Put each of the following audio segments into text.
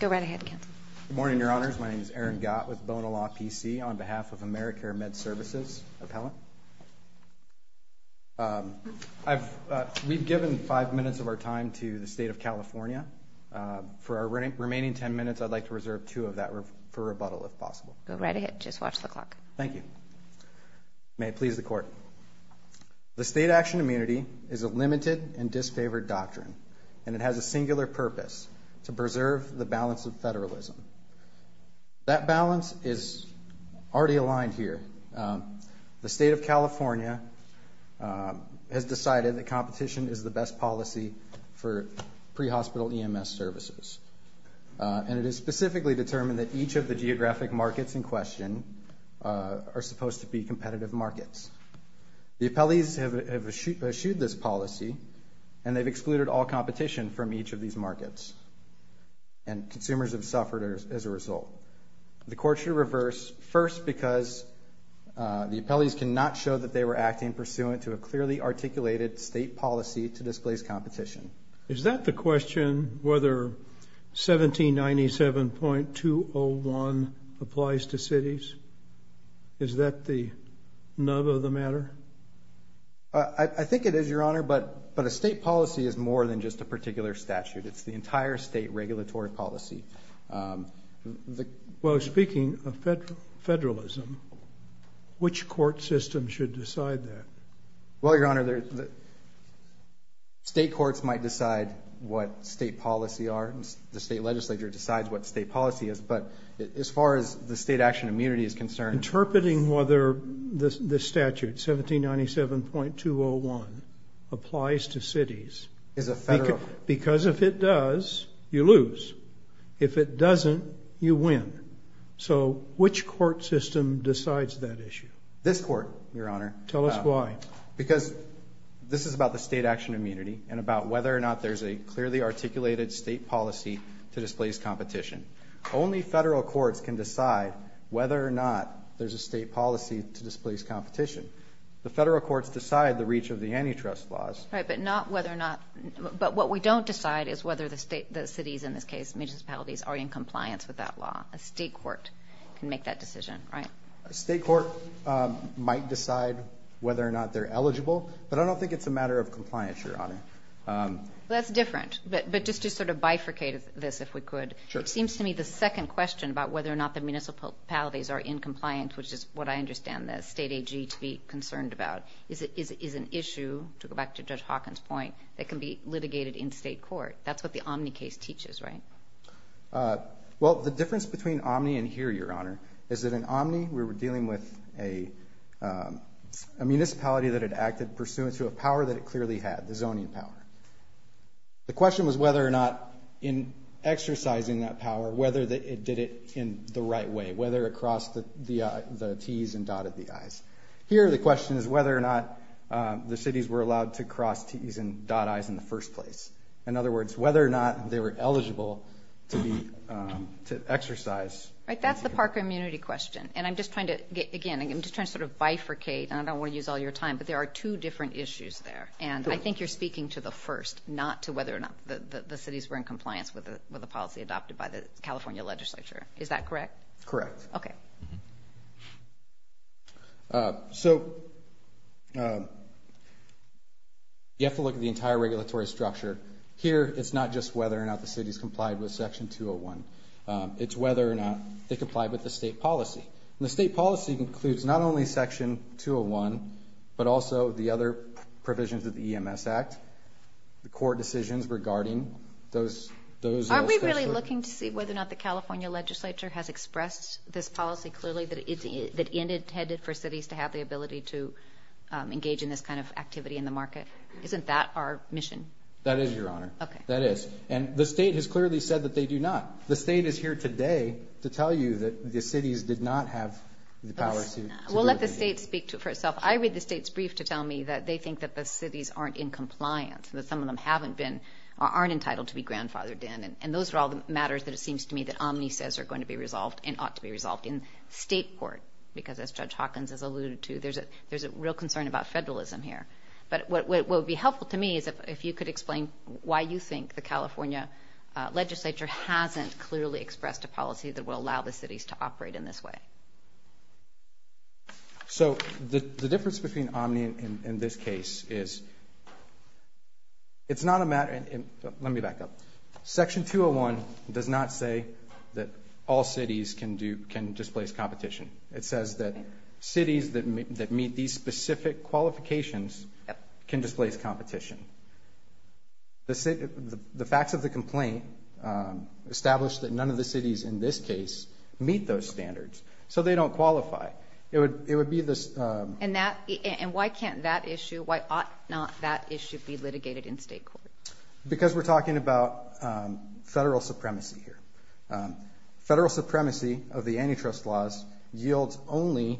Good morning, Your Honors. My name is Aaron Gott with Bonilaw PC on behalf of AmeriCare MedServices Appellant. We've given five minutes of our time to the State of California. For our remaining ten minutes, I'd like to reserve two of that for rebuttal, if possible. Go right ahead, just watch the clock. Thank you. May it please the Court. The state action immunity is a limited and disfavored doctrine, and it has a singular purpose, to preserve the balance of federalism. That balance is already aligned here. The State of California has decided that competition is the best policy for pre-hospital EMS services, and it is specifically determined that each of the geographic markets in question are supposed to be competitive markets. The appellees have issued this policy, and they've excluded all competition from each of these markets, and consumers have suffered as a result. The Court should reverse, first because the appellees cannot show that they were acting pursuant to a clearly articulated state policy to displace competition. Is that the question, whether 1797.201 applies to cities? Is that the nub of the matter? I think it is, Your Honor, but a state policy is more than just a particular statute. It's the entire state regulatory policy. Well, speaking of federalism, which court system should decide that? Well, Your Honor, the state courts might decide what state policy are, and the state legislature decides what state policy is, but as far as the state action immunity is concerned... Interpreting whether this statute, 1797.201, applies to cities, because if it does, you lose. If it doesn't, you win. So which court system decides that issue? This court, Your Honor. Tell us why. Because this is about the state action immunity, and about whether or not there's a clearly articulated state policy to displace competition. Only federal courts can decide whether or not there's a state policy to displace competition. The federal courts decide the reach of the antitrust laws. Right, but not whether or not, but what we don't decide is whether the state, the cities in this case, municipalities, are in compliance with that law. A state court can make that decision, right? A state court might decide whether or not they're eligible, but I don't think it's a matter of compliance, Your Honor. That's different, but just to sort of bifurcate this, if we could, it seems to me the second question about whether or not the municipalities are in compliance, which is what I understand the state AG to be concerned about, is an issue, to go back to Judge Hawkins' point, that can be litigated in state court. That's what the Omni case teaches, right? Well, the difference between Omni and here, Your Honor, is that in Omni, we were dealing with a municipality that had acted pursuant to a power that it clearly had, the zoning power. The question was whether or not, in exercising that power, whether it did it in the right way, whether it crossed the T's and dotted the I's. Here, the question is whether or not the cities were allowed to cross T's and dot I's in the first place. In other words, whether or not they were eligible to exercise. Right, that's the parker immunity question, and I'm just trying to, again, I'm just trying to sort of bifurcate, and I don't want to use all your time, but there are two different issues there, and I think you're speaking to the first, not to whether or not the cities were in compliance with the policy adopted by the California legislature. Is that correct? Correct. Okay. So, you have to look at the entire regulatory structure. Here, it's not just whether or not the cities complied with Section 201. It's whether or not they complied with the state policy, and the state policy includes not only Section 201, but also the other decisions regarding those. Are we really looking to see whether or not the California legislature has expressed this policy clearly, that it's intended for cities to have the ability to engage in this kind of activity in the market? Isn't that our mission? That is, Your Honor. Okay. That is, and the state has clearly said that they do not. The state is here today to tell you that the cities did not have the power to. We'll let the state speak to it for itself. I read the state's brief to tell me that they think that the cities aren't in entitled to be grandfathered in, and those are all the matters that it seems to me that Omni says are going to be resolved and ought to be resolved in state court, because as Judge Hawkins has alluded to, there's a real concern about federalism here. But what would be helpful to me is if you could explain why you think the California legislature hasn't clearly expressed a policy that will allow the cities to operate in this way. So, the difference between Omni and this case is, it's not a matter, and let me back up. Section 201 does not say that all cities can do, can displace competition. It says that cities that meet these specific qualifications can displace competition. The facts of the complaint establish that none of the cities in this case meet those standards, so they don't qualify. It would, it would be this. And that, and why can't that issue, why ought not that issue be litigated in state court? Because we're talking about federal supremacy here. Federal supremacy of the antitrust laws yields only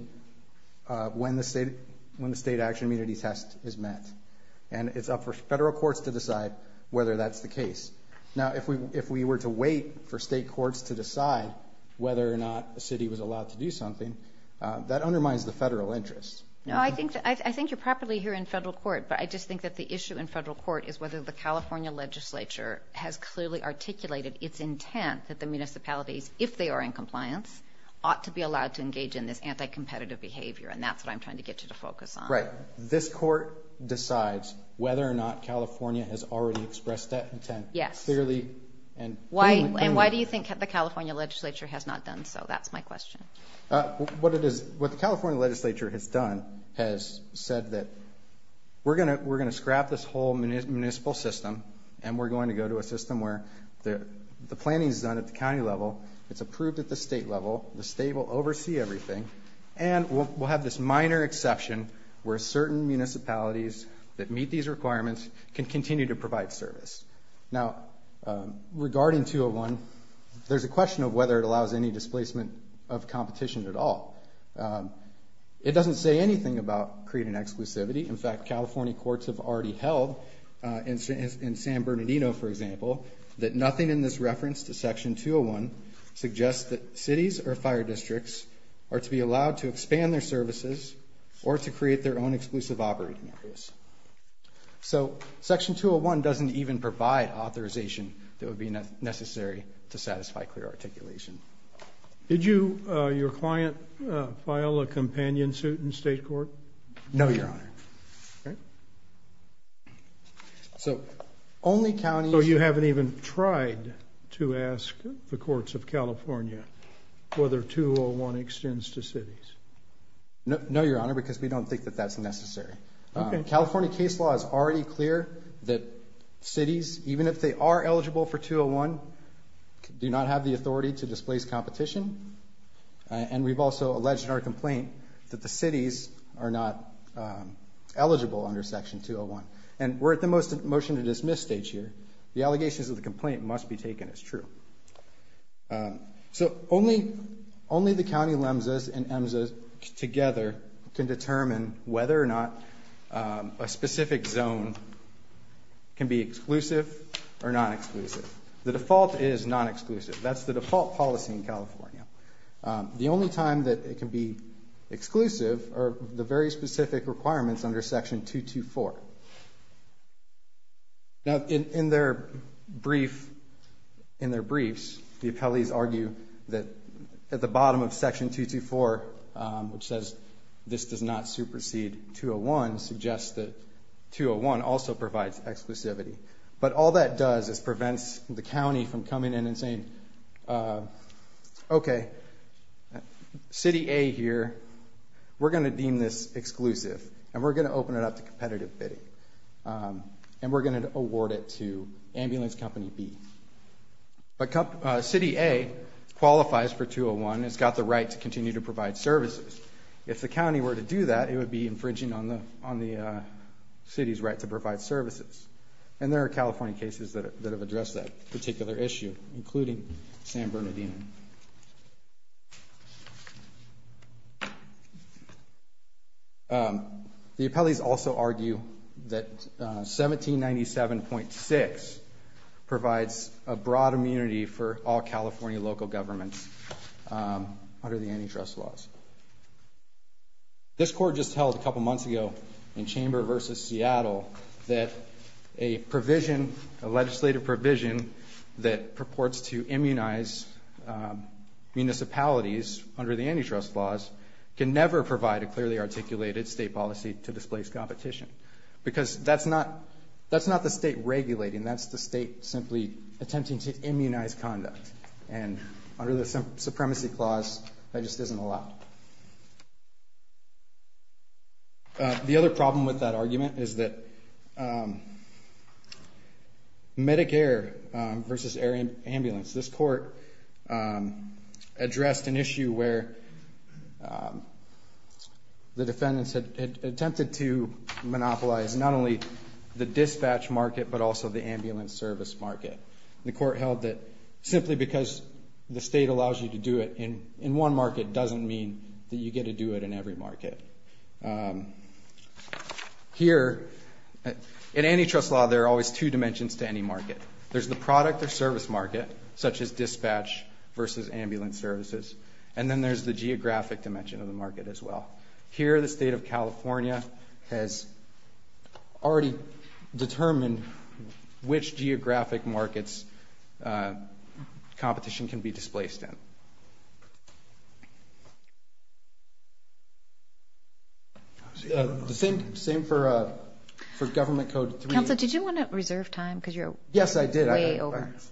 when the state, when the state action immunity test is met, and it's up for federal courts to decide whether that's the case. Now, if we, if we were to wait for state courts to decide whether or not a city was allowed to do something, that undermines the federal interest. No, I think, I think you're properly here in federal court, but I just think that the issue in federal court is whether the California legislature has clearly articulated its intent that the municipalities, if they are in compliance, ought to be allowed to engage in this anti-competitive behavior, and that's what I'm trying to get you to focus on. Right. This court decides whether or not California has already expressed that intent. Yes. Clearly, and why, and why do you think the California legislature has not done so? That's my question. What it is, what the California legislature has done, has said that we're going to, we're going to scrap this whole municipal system, and we're going to go to a system where the, the planning is done at the county level, it's approved at the state level, the state will oversee everything, and we'll, we'll have this minor exception where certain municipalities that meet these requirements can continue to provide service. Now, regarding 201, there's a section, it doesn't say anything about creating exclusivity. In fact, California courts have already held in San Bernardino, for example, that nothing in this reference to section 201 suggests that cities or fire districts are to be allowed to expand their services or to create their own exclusive operating areas. So, section 201 doesn't even provide authorization that would be necessary to satisfy clear articulation. Did you, your client, file a companion suit in state court? No, Your Honor. Okay. So, only counties... So, you haven't even tried to ask the courts of California whether 201 extends to cities? No, Your Honor, because we don't think that that's necessary. Okay. California are eligible for 201, do not have the authority to displace competition, and we've also alleged in our complaint that the cities are not eligible under section 201. And we're at the motion to dismiss stage here. The allegations of the complaint must be taken as true. So, only, only the county LEMSAs and EMSAs together can determine whether or not a specific zone can be exclusive or non-exclusive. The default is non-exclusive. That's the default policy in California. The only time that it can be exclusive are the very specific requirements under section 224. Now, in their brief, in their briefs, the appellees argue that at the bottom of 201 suggests that 201 also provides exclusivity. But all that does is prevents the county from coming in and saying, okay, city A here, we're going to deem this exclusive, and we're going to open it up to competitive bidding. And we're going to award it to ambulance company B. But city A qualifies for 201, it's got the right to continue to provide on the city's right to provide services. And there are California cases that have addressed that particular issue, including San Bernardino. The appellees also argue that 1797.6 provides a broad immunity for all California local governments under the antitrust laws. This court just held a in chamber versus Seattle that a provision, a legislative provision that purports to immunize municipalities under the antitrust laws can never provide a clearly articulated state policy to displace competition. Because that's not the state regulating, that's the state simply attempting to immunize conduct. And under the supremacy clause, that just isn't allowed. The other problem with that argument is that Medicare versus air ambulance, this court addressed an issue where the defendants had attempted to monopolize not only the dispatch market, but also the ambulance service market. The court held that simply because the state allows you to do it in one market doesn't mean that you get to do it in every market. Here, in antitrust law, there are always two dimensions to any market. There's the product or service market, such as dispatch versus ambulance services. And then there's the geographic dimension of the market as well. Here, the state of California has already determined which geographic markets competition can be displaced in. The same for government code three. Counsel, did you want to reserve time? Because you're way over. Yes, I did. I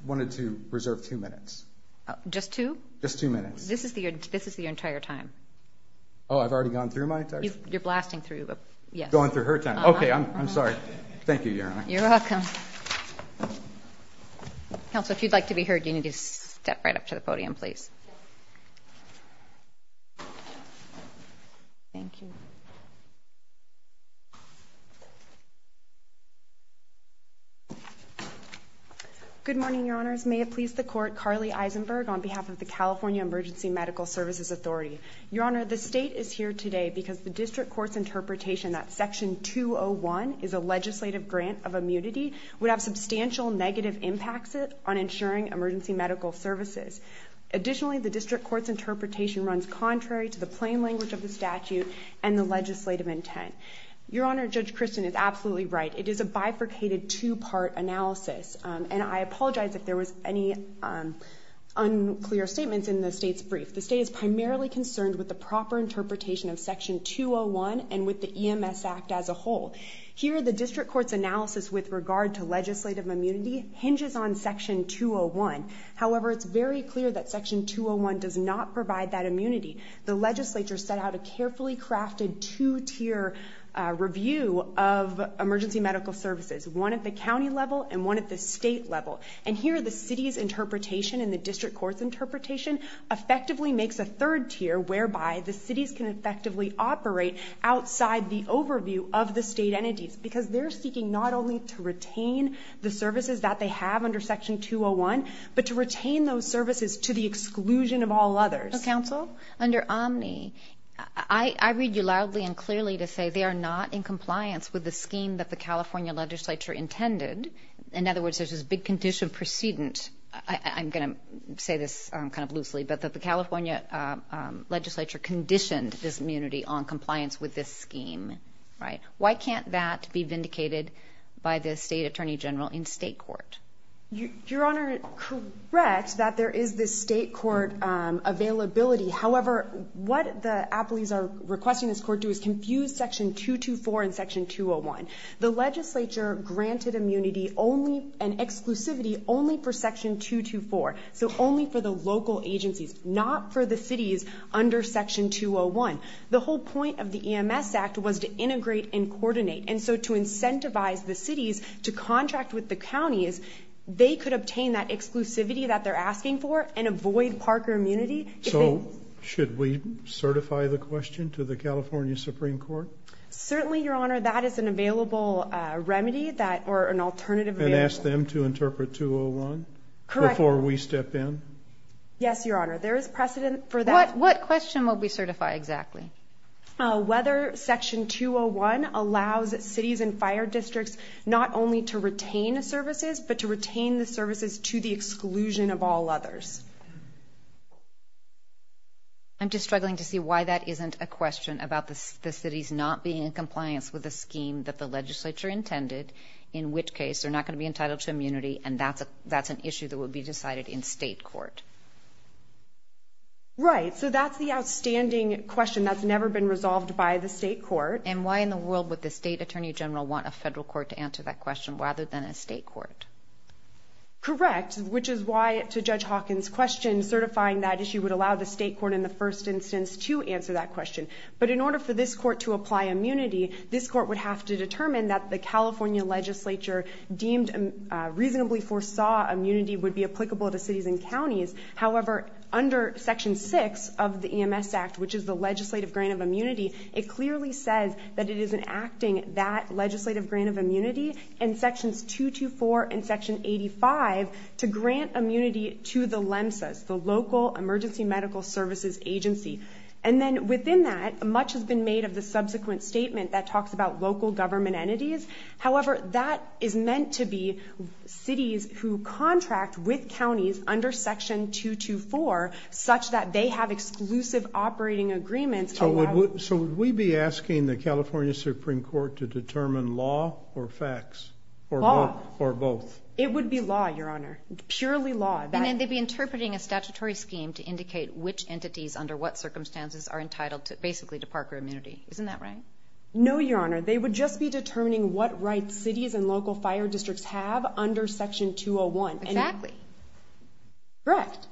wanted to reserve two minutes. Just two? Just two minutes. This is your entire time. Oh, I've already gone through my entire time? You're blasting through. Going through her time. Okay, I'm sorry. Thank you, Your Honor. You're welcome. Counsel, if you'd like to be heard, you need to step right up to the podium, please. Thank you. Good morning, Your Honors. May it please the Court, Carly Eisenberg, on behalf of the California Emergency Medical Services Authority. Your Honor, the state is here today because the district court's interpretation that Section 201 is a legislative grant of immunity would have substantial negative impacts on ensuring emergency medical services. Additionally, the district court's interpretation is contrary to the plain language of the statute and the legislative intent. Your Honor, Judge Christin is absolutely right. It is a bifurcated, two-part analysis. And I apologize if there was any unclear statements in the state's brief. The state is primarily concerned with the proper interpretation of Section 201 and with the EMS Act as a whole. Here, the district court's analysis with regard to legislative immunity hinges on Section 201. However, it's very clear that Section 201 does not provide that immunity. The legislature set out a carefully crafted, two-tier review of emergency medical services, one at the county level and one at the state level. And here, the city's interpretation and the district court's interpretation effectively makes a third tier whereby the cities can effectively operate outside the overview of the state entities because they're seeking not only to retain the services that they have under Section 201, but to retain those services that they have under Section 201. And here, the district court's analysis with regard to legislative immunity hinges on Section 201 and with the EMS Act as a whole. Your Honor, Judge Christin is absolutely right. And I apologize if there was any unclear statements in the state's brief. The district court's analysis with regard to legislative immunity hinges on Section 201 and with the EMS Act as a whole. However, it's very clear that Section 201 does not provide that immunity. However, what the appellees are requesting this court do is confuse Section 224 and Section 201. The legislature granted immunity and exclusivity only for Section 224, so only for the local agencies, not for the cities under Section 201. The whole point of the EMS Act was to integrate and coordinate. And so to incentivize the cities to contract with the counties, they could obtain that darker immunity. So, should we certify the question to the California Supreme Court? Certainly, Your Honor. That is an available remedy, or an alternative remedy. And ask them to interpret 201? Correct. Before we step in? Yes, Your Honor. There is precedent for that. What question will we certify exactly? Whether Section 201 allows cities and fire districts not only to retain the services, but to retain the services to the exclusion of all others? I'm just struggling to see why that isn't a question about the cities not being in compliance with the scheme that the legislature intended, in which case they're not going to be entitled to immunity, and that's an issue that would be decided in state court. Right. So, that's the outstanding question that's never been resolved by the state court. And why in the world would the state attorney general want a federal court to certify that issue rather than a state court? Correct. Which is why, to Judge Hawkins' question, certifying that issue would allow the state court in the first instance to answer that question. But in order for this court to apply immunity, this court would have to determine that the California legislature deemed reasonably foresaw immunity would be applicable to cities and counties. However, under Section 6 of the EMS Act, which is the legislative grant of immunity, it clearly says that it isn't acting that legislative grant of immunity under Section 224 and Section 85 to grant immunity to the LEMSAs, the local emergency medical services agency. And then, within that, much has been made of the subsequent statement that talks about local government entities. However, that is meant to be cities who contract with counties under Section 224 such that they have exclusive operating agreements. So, would we be asking the California Supreme Court to determine law or facts? Law. Or both. It would be law, Your Honor. Purely law. And then they'd be interpreting a statutory scheme to indicate which entities under what circumstances are entitled basically to Parker immunity. Isn't that right? No, Your Honor. They would just be determining what rights cities and local fire districts have under Section 201. Exactly. Correct.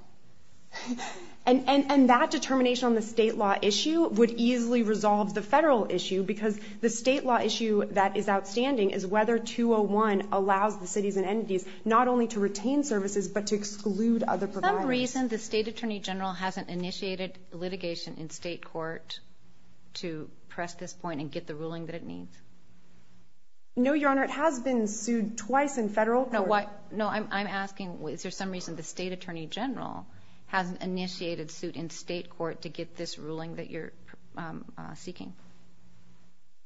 And that determination on the state law issue would easily resolve the federal issue because the state law issue that is outstanding is whether 201 allows the cities and entities not only to retain services but to exclude other providers. Is there some reason the State Attorney General hasn't initiated litigation in state court to press this point and get the ruling that it needs? No, Your Honor. It has been sued twice in federal court. No, I'm asking is there some reason the State Attorney General hasn't initiated a lawsuit in state court to get this ruling that you're seeking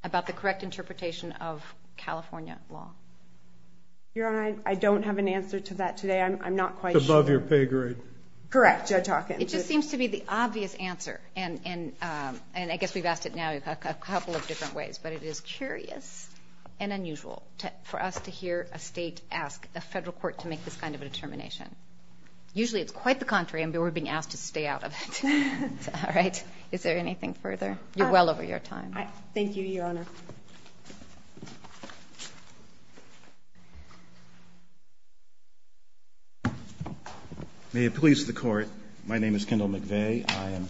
about the correct interpretation of California law? Your Honor, I don't have an answer to that today. I'm not quite sure. It's above your pay grade. Correct. Judge Hawkins. It just seems to be the obvious answer, and I guess we've asked it now a couple of different ways, but it is curious and unusual for us to hear a state ask a federal court to make this kind of a determination. Usually it's quite the contrary, and we're being asked to stay out of it. All right. Is there anything further? You're well over your time. Thank you, Your Honor. May it please the Court. My name is Kendall McVeigh. I am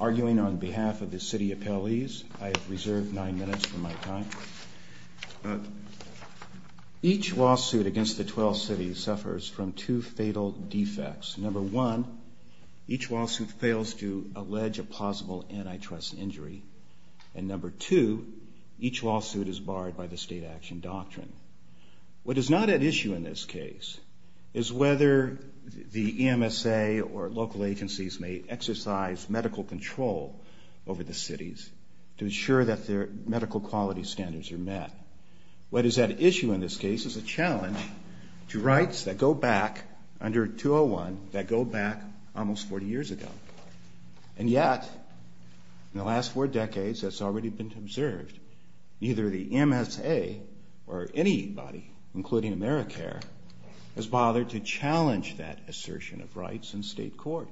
arguing on behalf of the city appellees. I have reserved nine minutes for my time. Each lawsuit against the 12 cities suffers from two fatal defects. Number one, each lawsuit fails to allege a plausible antitrust injury, and number two, each lawsuit is barred by the state action doctrine. What is not at issue in this case is whether the EMSA or local agencies may exercise medical control over the cities to ensure that their medical quality standards are met. What is at issue in this case is a challenge to rights that go back under 201, that go back almost 40 years ago. And yet, in the last four decades, that's already been observed. Neither the EMSA or anybody, including AmeriCare, has bothered to challenge that assertion of rights in state court.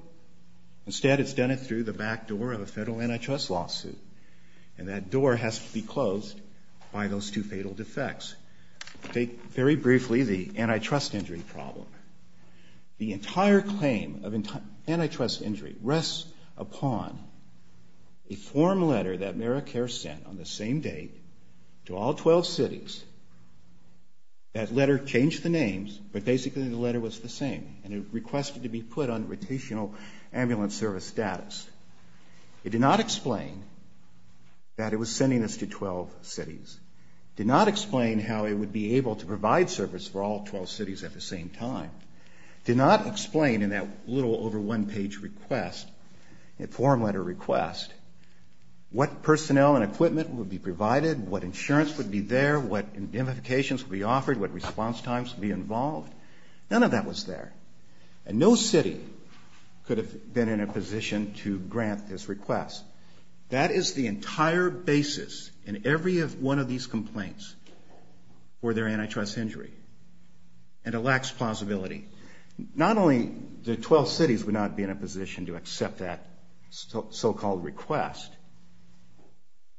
Instead, it's done it through the back door of a federal antitrust lawsuit, and that door has to be closed by those two fatal defects. Take very briefly the antitrust injury problem. The entire claim of antitrust injury rests upon a form letter that AmeriCare sent on the same day to all 12 cities. That letter changed the names, but basically the letter was the same, and it requested to be put on rotational ambulance service status. It did not explain that it was sending this to 12 cities. It did not explain how it would be able to provide service for all 12 cities at the same time. It did not explain in that little over one-page request, that form letter request, what personnel and equipment would be provided, what insurance would be there, what indemnifications would be offered, what response times would be involved. None of that was there. And no city could have been in a position to grant this request. That is the entire basis in every one of these complaints, were there antitrust injury, and a lax plausibility. Not only the 12 cities would not be in a position to accept that so-called request,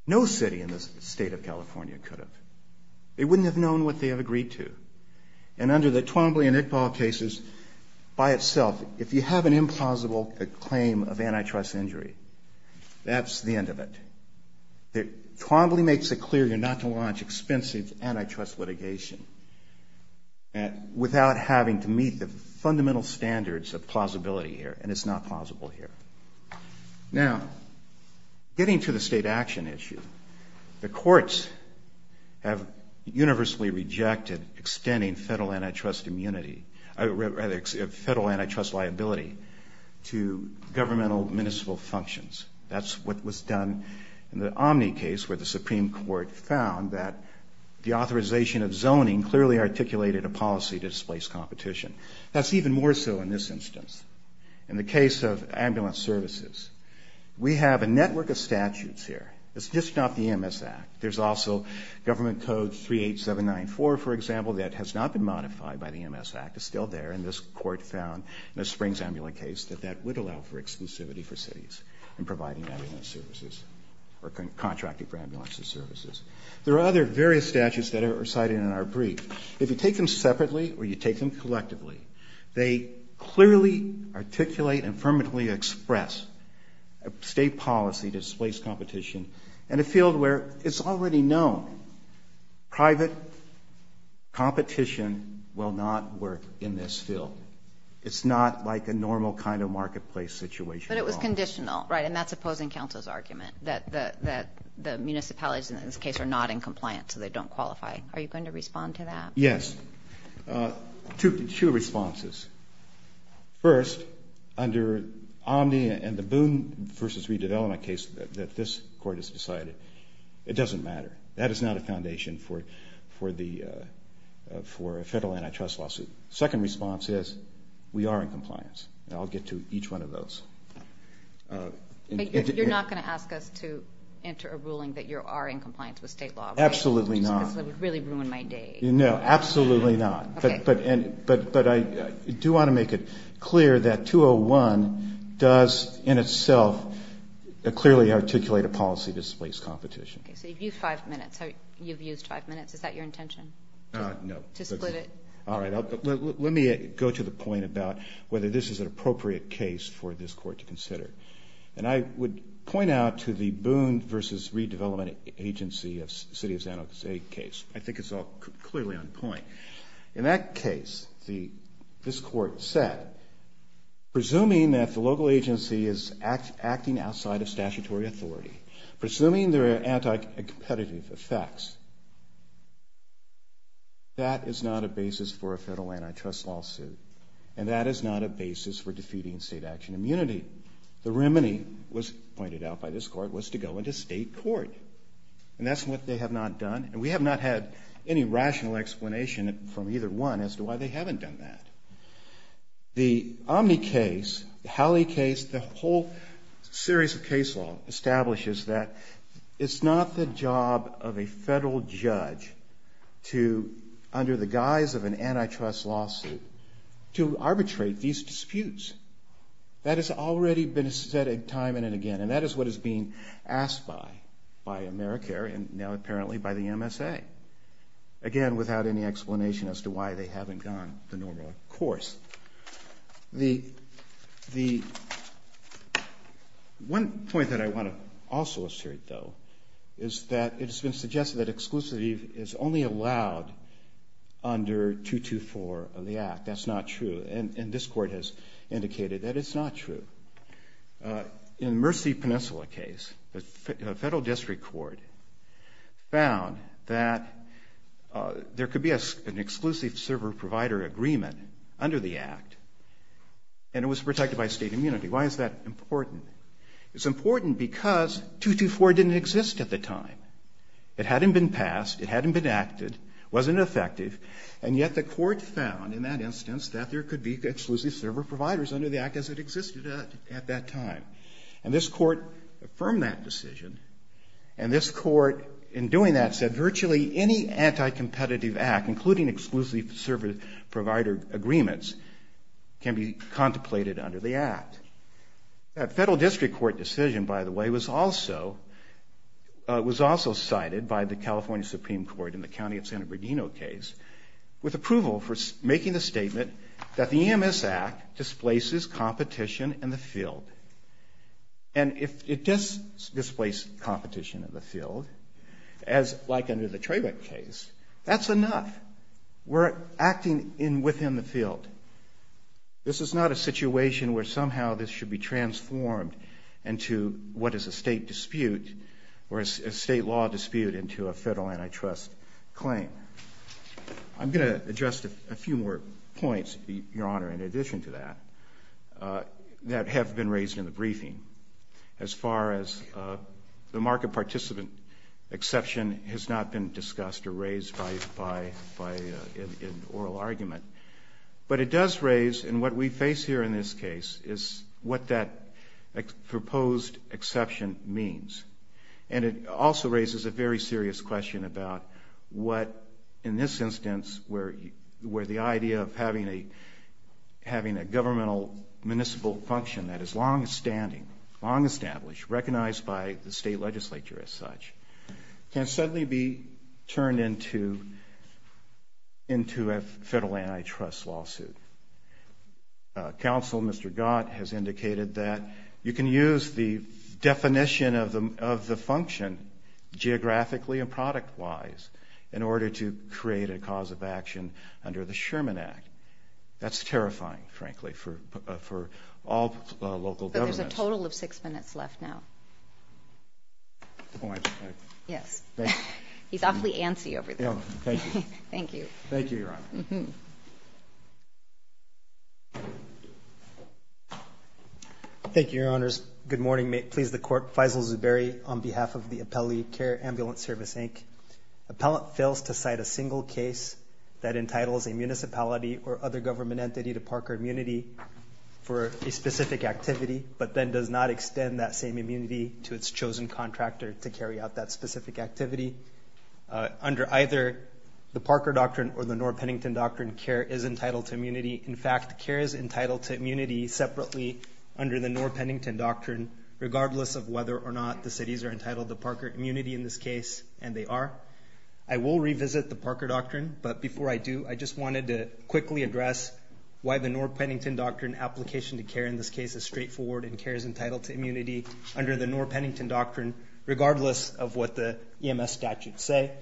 no city in the state of California could have. They wouldn't have known what they had agreed to. And under the Twombly and Iqbal cases, by itself, if you have an implausible claim of antitrust injury, that's the end of it. Twombly makes it clear you're not to launch expensive antitrust litigation without having to meet the fundamental standards of plausibility here, and it's not plausible here. Now, getting to the state action issue, the courts have universally rejected extending federal antitrust liability to governmental municipal functions. That's what was done in the Omni case, where the Supreme Court found that the authorization of zoning clearly articulated a policy to displace competition. That's even more so in this instance. In the case of ambulance services, we have a network of statutes here. It's just not the EMS Act. There's also Government Code 38794, for example, that has not been modified by the EMS Act. It's still there. And this Court found in the Springs Ambulance case that that would allow for exclusivity for cities in providing ambulance services or contracting for ambulance services. There are other various statutes that are cited in our brief. If you take them separately or you take them collectively, they clearly articulate and firmly express a State policy to displace competition in a field where it's already known private competition will not work in this field. It's not like a normal kind of marketplace situation. But it was conditional, right? And that's opposing counsel's argument, that the municipalities in this case are not in compliance, so they don't qualify. Are you going to respond to that? Yes. Two responses. First, under Omni and the Boone v. Redevelopment case that this Court has decided, it doesn't matter. That is not a foundation for a federal antitrust lawsuit. Second response is, we are in compliance. And I'll get to each one of those. You're not going to ask us to enter a ruling that you are in compliance with State law, right? Absolutely not. Because it would really ruin my day. No, absolutely not. Okay. But I do want to make it clear that 201 does in itself clearly articulate a policy to displace competition. Okay. So you've used five minutes. You've used five minutes. Is that your intention? No. To split it? Let me go to the point about whether this is an appropriate case for this Court to consider. And I would point out to the Boone v. Redevelopment agency of the City of San Jose case. I think it's all clearly on point. In that case, this Court said, presuming that the local agency is acting outside of statutory authority, presuming there are anti-competitive effects, that is not a basis for a federal antitrust lawsuit. And that is not a basis for defeating state action immunity. The remedy was pointed out by this Court was to go into state court. And that's what they have not done. And we have not had any rational explanation from either one as to why they haven't done that. The Omni case, the Halley case, the whole series of case law establishes that it's not the job of a federal judge to, under the guise of an antitrust lawsuit, to arbitrate these disputes. That has already been said time and again. And that is what is being asked by AmeriCare and now apparently by the MSA. Again, without any explanation as to why they haven't gone the normal course. One point that I want to also assert, though, is that it has been suggested that exclusivity is only allowed under 224 of the Act. That's not true. And this Court has indicated that it's not true. In the Mercy Peninsula case, the federal district court found that there could be an exclusive server-provider agreement under the Act and it was protected by state immunity. Why is that important? It's important because 224 didn't exist at the time. It hadn't been passed. It hadn't been acted. It wasn't effective. And yet the Court found, in that instance, that there could be exclusive server-providers under the Act as it existed at that time. And this Court affirmed that decision. And this Court, in doing that, said virtually any anticompetitive Act, including exclusive server-provider agreements, can be contemplated under the Act. That federal district court decision, by the way, was also cited by the California Supreme Court in the County of San Bernardino case with approval for making the statement that the EMS Act displaces competition in the field. And if it does displace competition in the field, as like under the Trabeck case, that's enough. We're acting within the field. This is not a situation where somehow this should be transformed into what is a state dispute or a state law dispute into a federal antitrust claim. I'm going to address a few more points, Your Honor, in addition to that, that have been raised in the briefing. As far as the market participant exception has not been discussed or raised by an oral argument. But it does raise, and what we face here in this case is what that proposed exception means. And it also raises a very serious question about what, in this instance, where the idea of having a governmental municipal function that is long-standing, long-established, recognized by the state legislature as such, can suddenly be turned into a federal antitrust lawsuit. Counsel, Mr. Gott, has indicated that you can use the definition of the function geographically and product-wise in order to create a cause of action under the Sherman Act. That's terrifying, frankly, for all local governments. There's a total of six minutes left now. Yes. He's awfully antsy over there. Thank you. Thank you, Your Honor. Thank you, Your Honors. Good morning. May it please the Court. Faisal Zuberi on behalf of the Appellee Care Ambulance Service, Inc. Appellant fails to cite a single case that entitles a municipality or other government entity to park or immunity for a specific activity, but then does not extend that same immunity to its chosen contractor to carry out that specific activity. Under either the Parker Doctrine or the Norr-Pennington Doctrine, care is entitled to immunity. In fact, care is entitled to immunity separately under the Norr-Pennington Doctrine, regardless of whether or not the cities are entitled to Parker immunity in this case, and they are. I will revisit the Parker Doctrine. But before I do, I just wanted to quickly address why the Norr-Pennington Doctrine application to care in this case is straightforward and care is entitled to immunity under the Norr-Pennington Doctrine, regardless of what the EMS statutes say.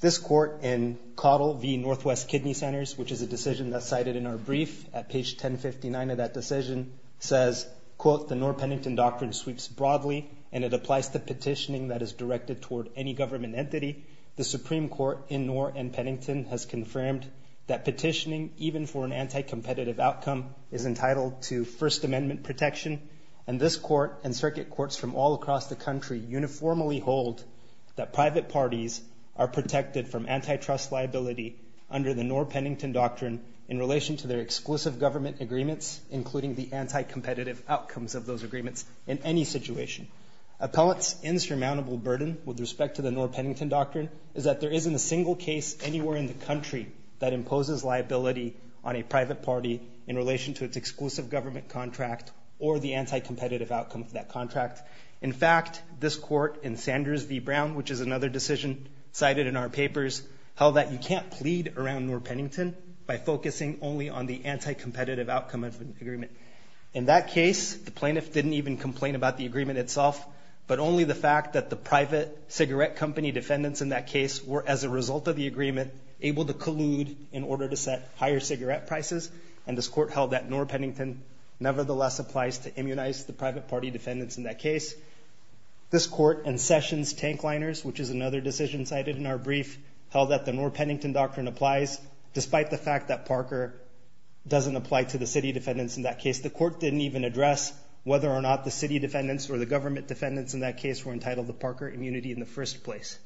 This Court in Caudill v. Northwest Kidney Centers, which is a decision that's cited in our brief, at page 1059 of that decision, says, quote, The Norr-Pennington Doctrine sweeps broadly, and it applies to petitioning that is directed toward any government entity. The Supreme Court in Norr and Pennington has confirmed that petitioning, even for an anti-competitive outcome, is entitled to First Amendment protection, and this Court and circuit courts from all across the country uniformly hold that private parties are protected from antitrust liability under the Norr-Pennington Doctrine in relation to their exclusive government agreements, including the anti-competitive outcomes of those agreements in any situation. Appellants' insurmountable burden with respect to the Norr-Pennington Doctrine is that there isn't a single case anywhere in the country that imposes liability on a private party in relation to its exclusive government contract or the anti-competitive outcome of that contract. In fact, this Court in Sanders v. Brown, which is another decision cited in our papers, held that you can't plead around Norr-Pennington by focusing only on the anti-competitive outcome of an agreement. In that case, the plaintiff didn't even complain about the agreement itself, but only the fact that the private cigarette company defendants in that case were, as a result of the agreement, able to collude in order to set higher cigarette prices, and this Court held that Norr-Pennington nevertheless applies to immunize the private party defendants in that case. This Court in Sessions v. Tankliners, which is another decision cited in our brief, held that the Norr-Pennington Doctrine applies, despite the fact that Parker doesn't apply to the city defendants in that case. The Court didn't even address whether or not the city defendants or the government defendants in that case were entitled to Parker immunity in the first place.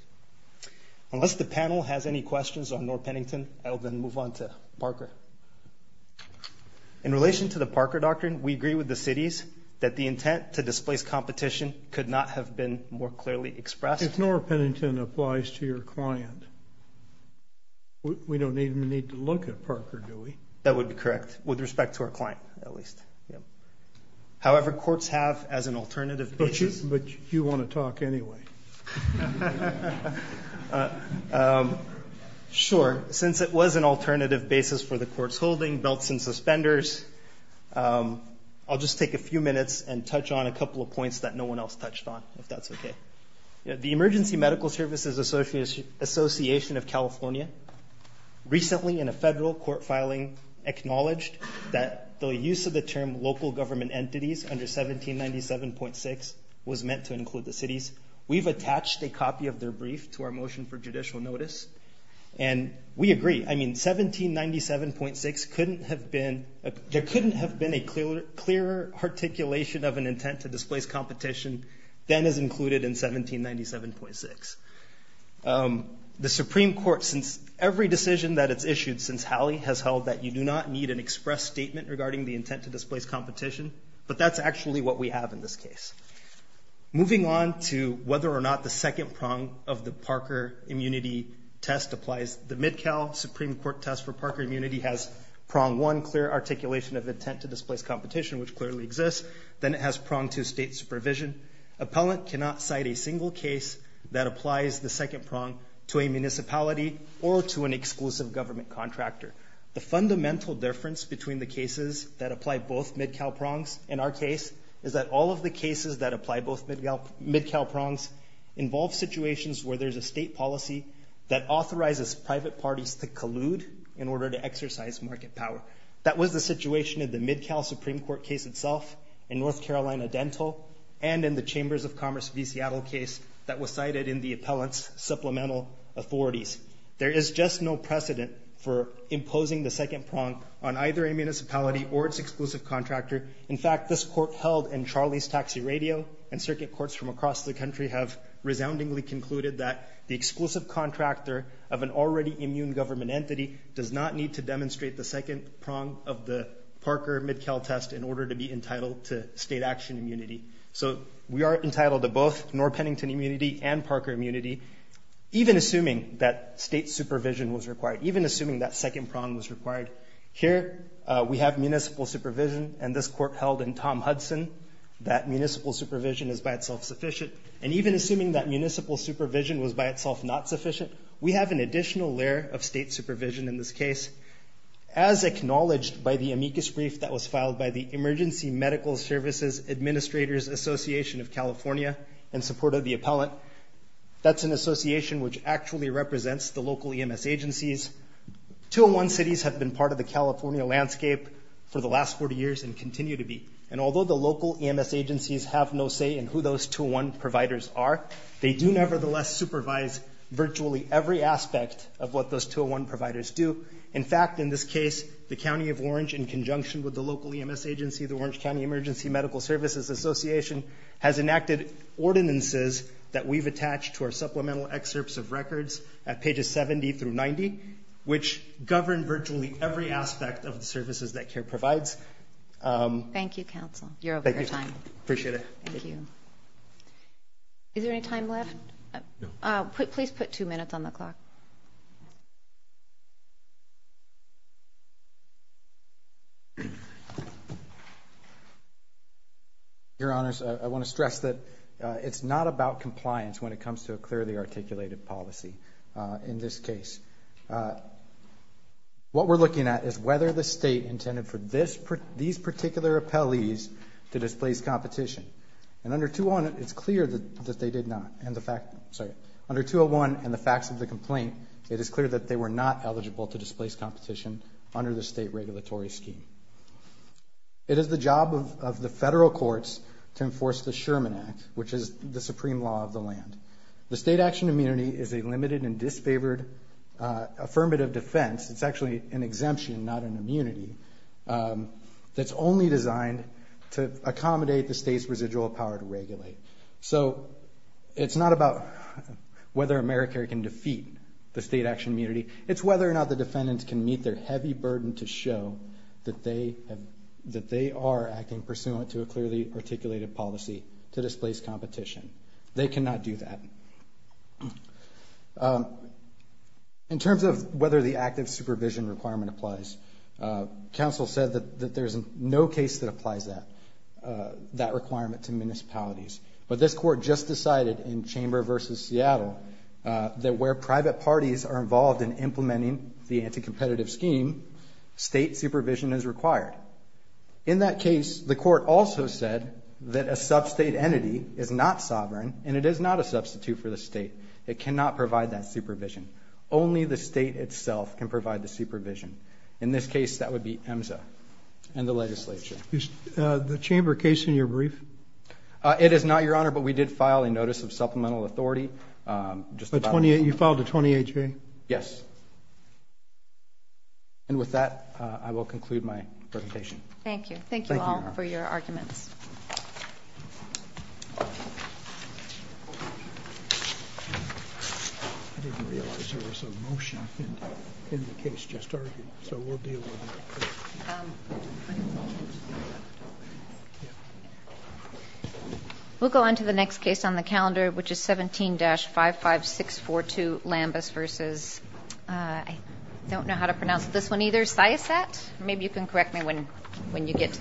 Unless the panel has any questions on Norr-Pennington, I will then move on to Parker. In relation to the Parker Doctrine, we agree with the cities that the intent to displace competition could not have been more clearly expressed. If Norr-Pennington applies to your client, we don't even need to look at Parker, do we? That would be correct, with respect to our client, at least. However, courts have as an alternative basis. But you want to talk anyway. Sure. Since it was an alternative basis for the Court's holding, belts and suspenders, I'll just take a few minutes and touch on a couple of points that no one else touched on, if that's okay. The Emergency Medical Services Association of California recently in a federal court filing acknowledged that the use of the term local government entities under 1797.6 was meant to include the cities. We've attached a copy of their brief to our motion for judicial notice, and we agree. I mean, 1797.6 couldn't have been – there couldn't have been a clearer articulation of an intent to displace competition than is included in 1797.6. The Supreme Court, since every decision that it's issued since Hallie, has held that you do not need an express statement regarding the intent to displace competition, but that's actually what we have in this case. Moving on to whether or not the second prong of the Parker immunity test applies, the Mid-Cal Supreme Court test for Parker immunity has prong one, clear articulation of intent to displace competition, which clearly exists. Then it has prong two, state supervision. Appellant cannot cite a single case that applies the second prong to a municipality or to an exclusive government contractor. The fundamental difference between the cases that apply both Mid-Cal prongs in our case is that all of the cases that apply both Mid-Cal prongs involve situations where there's a state policy that authorizes private parties to collude in order to exercise market power. That was the situation in the Mid-Cal Supreme Court case itself, in North Carolina Dental, and in the Chambers of Commerce v. Seattle case that was cited in the appellant's supplemental authorities. There is just no precedent for imposing the second prong on either a municipality or its exclusive contractor. In fact, this court held in Charlie's Taxi Radio and circuit courts from across the country have resoundingly concluded that the exclusive contractor of an already immune government entity does not need to demonstrate the second prong of the Parker Mid-Cal test in order to be entitled to state action immunity. So we are entitled to both Norr-Pennington immunity and Parker immunity, even assuming that state supervision was required, even assuming that second prong was required. Here we have municipal supervision, and this court held in Tom Hudson that municipal supervision is by itself sufficient. And even assuming that municipal supervision was by itself not sufficient, we have an additional layer of state supervision in this case. As acknowledged by the amicus brief that was filed by the Emergency Medical Services Administrators Association of California in support of the appellant, that's an association which actually represents the local EMS agencies. 201 cities have been part of the California landscape for the last 40 years and continue to be. And although the local EMS agencies have no say in who those 201 providers are, they do nevertheless supervise virtually every aspect of what those 201 providers do. In fact, in this case, the County of Orange, in conjunction with the local EMS agency, the Orange County Emergency Medical Services Association, has enacted ordinances that we've attached to our supplemental excerpts of records at pages 70 through 90, which govern virtually every aspect of the services that CARE provides. Thank you, counsel. You're over your time. Appreciate it. Thank you. Is there any time left? No. Please put two minutes on the clock. Your Honors, I want to stress that it's not about compliance when it comes to a clearly articulated policy in this case. What we're looking at is whether the state intended for these particular appellees to displace competition. And under 201, it's clear that they did not. Sorry, under 201 and the facts of the complaint, it is clear that they were not eligible to displace competition under the state regulatory scheme. It is the job of the federal courts to enforce the Sherman Act, which is the supreme law of the land. The state action immunity is a limited and disfavored affirmative defense. It's actually an exemption, not an immunity, that's only designed to accommodate the state's residual power to regulate. So it's not about whether AmeriCARE can defeat the state action immunity. It's whether or not the defendants can meet their heavy burden to show that they are acting pursuant to a clearly articulated policy to displace competition. They cannot do that. In terms of whether the active supervision requirement applies, counsel said that there's no case that applies that requirement to municipalities. But this court just decided in Chamber v. Seattle that where private parties are involved in implementing the anti-competitive scheme, state supervision is required. In that case, the court also said that a sub-state entity is not sovereign and it is not a substitute for the state. It cannot provide that supervision. Only the state itself can provide the supervision. In this case, that would be EMSA and the legislature. Is the Chamber case in your brief? It is not, Your Honor, but we did file a notice of supplemental authority. You filed a 28-J? Yes. And with that, I will conclude my presentation. Thank you. Thank you all for your arguments. I didn't realize there was a motion in the case just argued, so we'll deal with it. We'll go on to the next case on the calendar, which is 17-55642, Lambus v. I don't know how to pronounce this one either, Syassat? Maybe you can correct me when you get to that.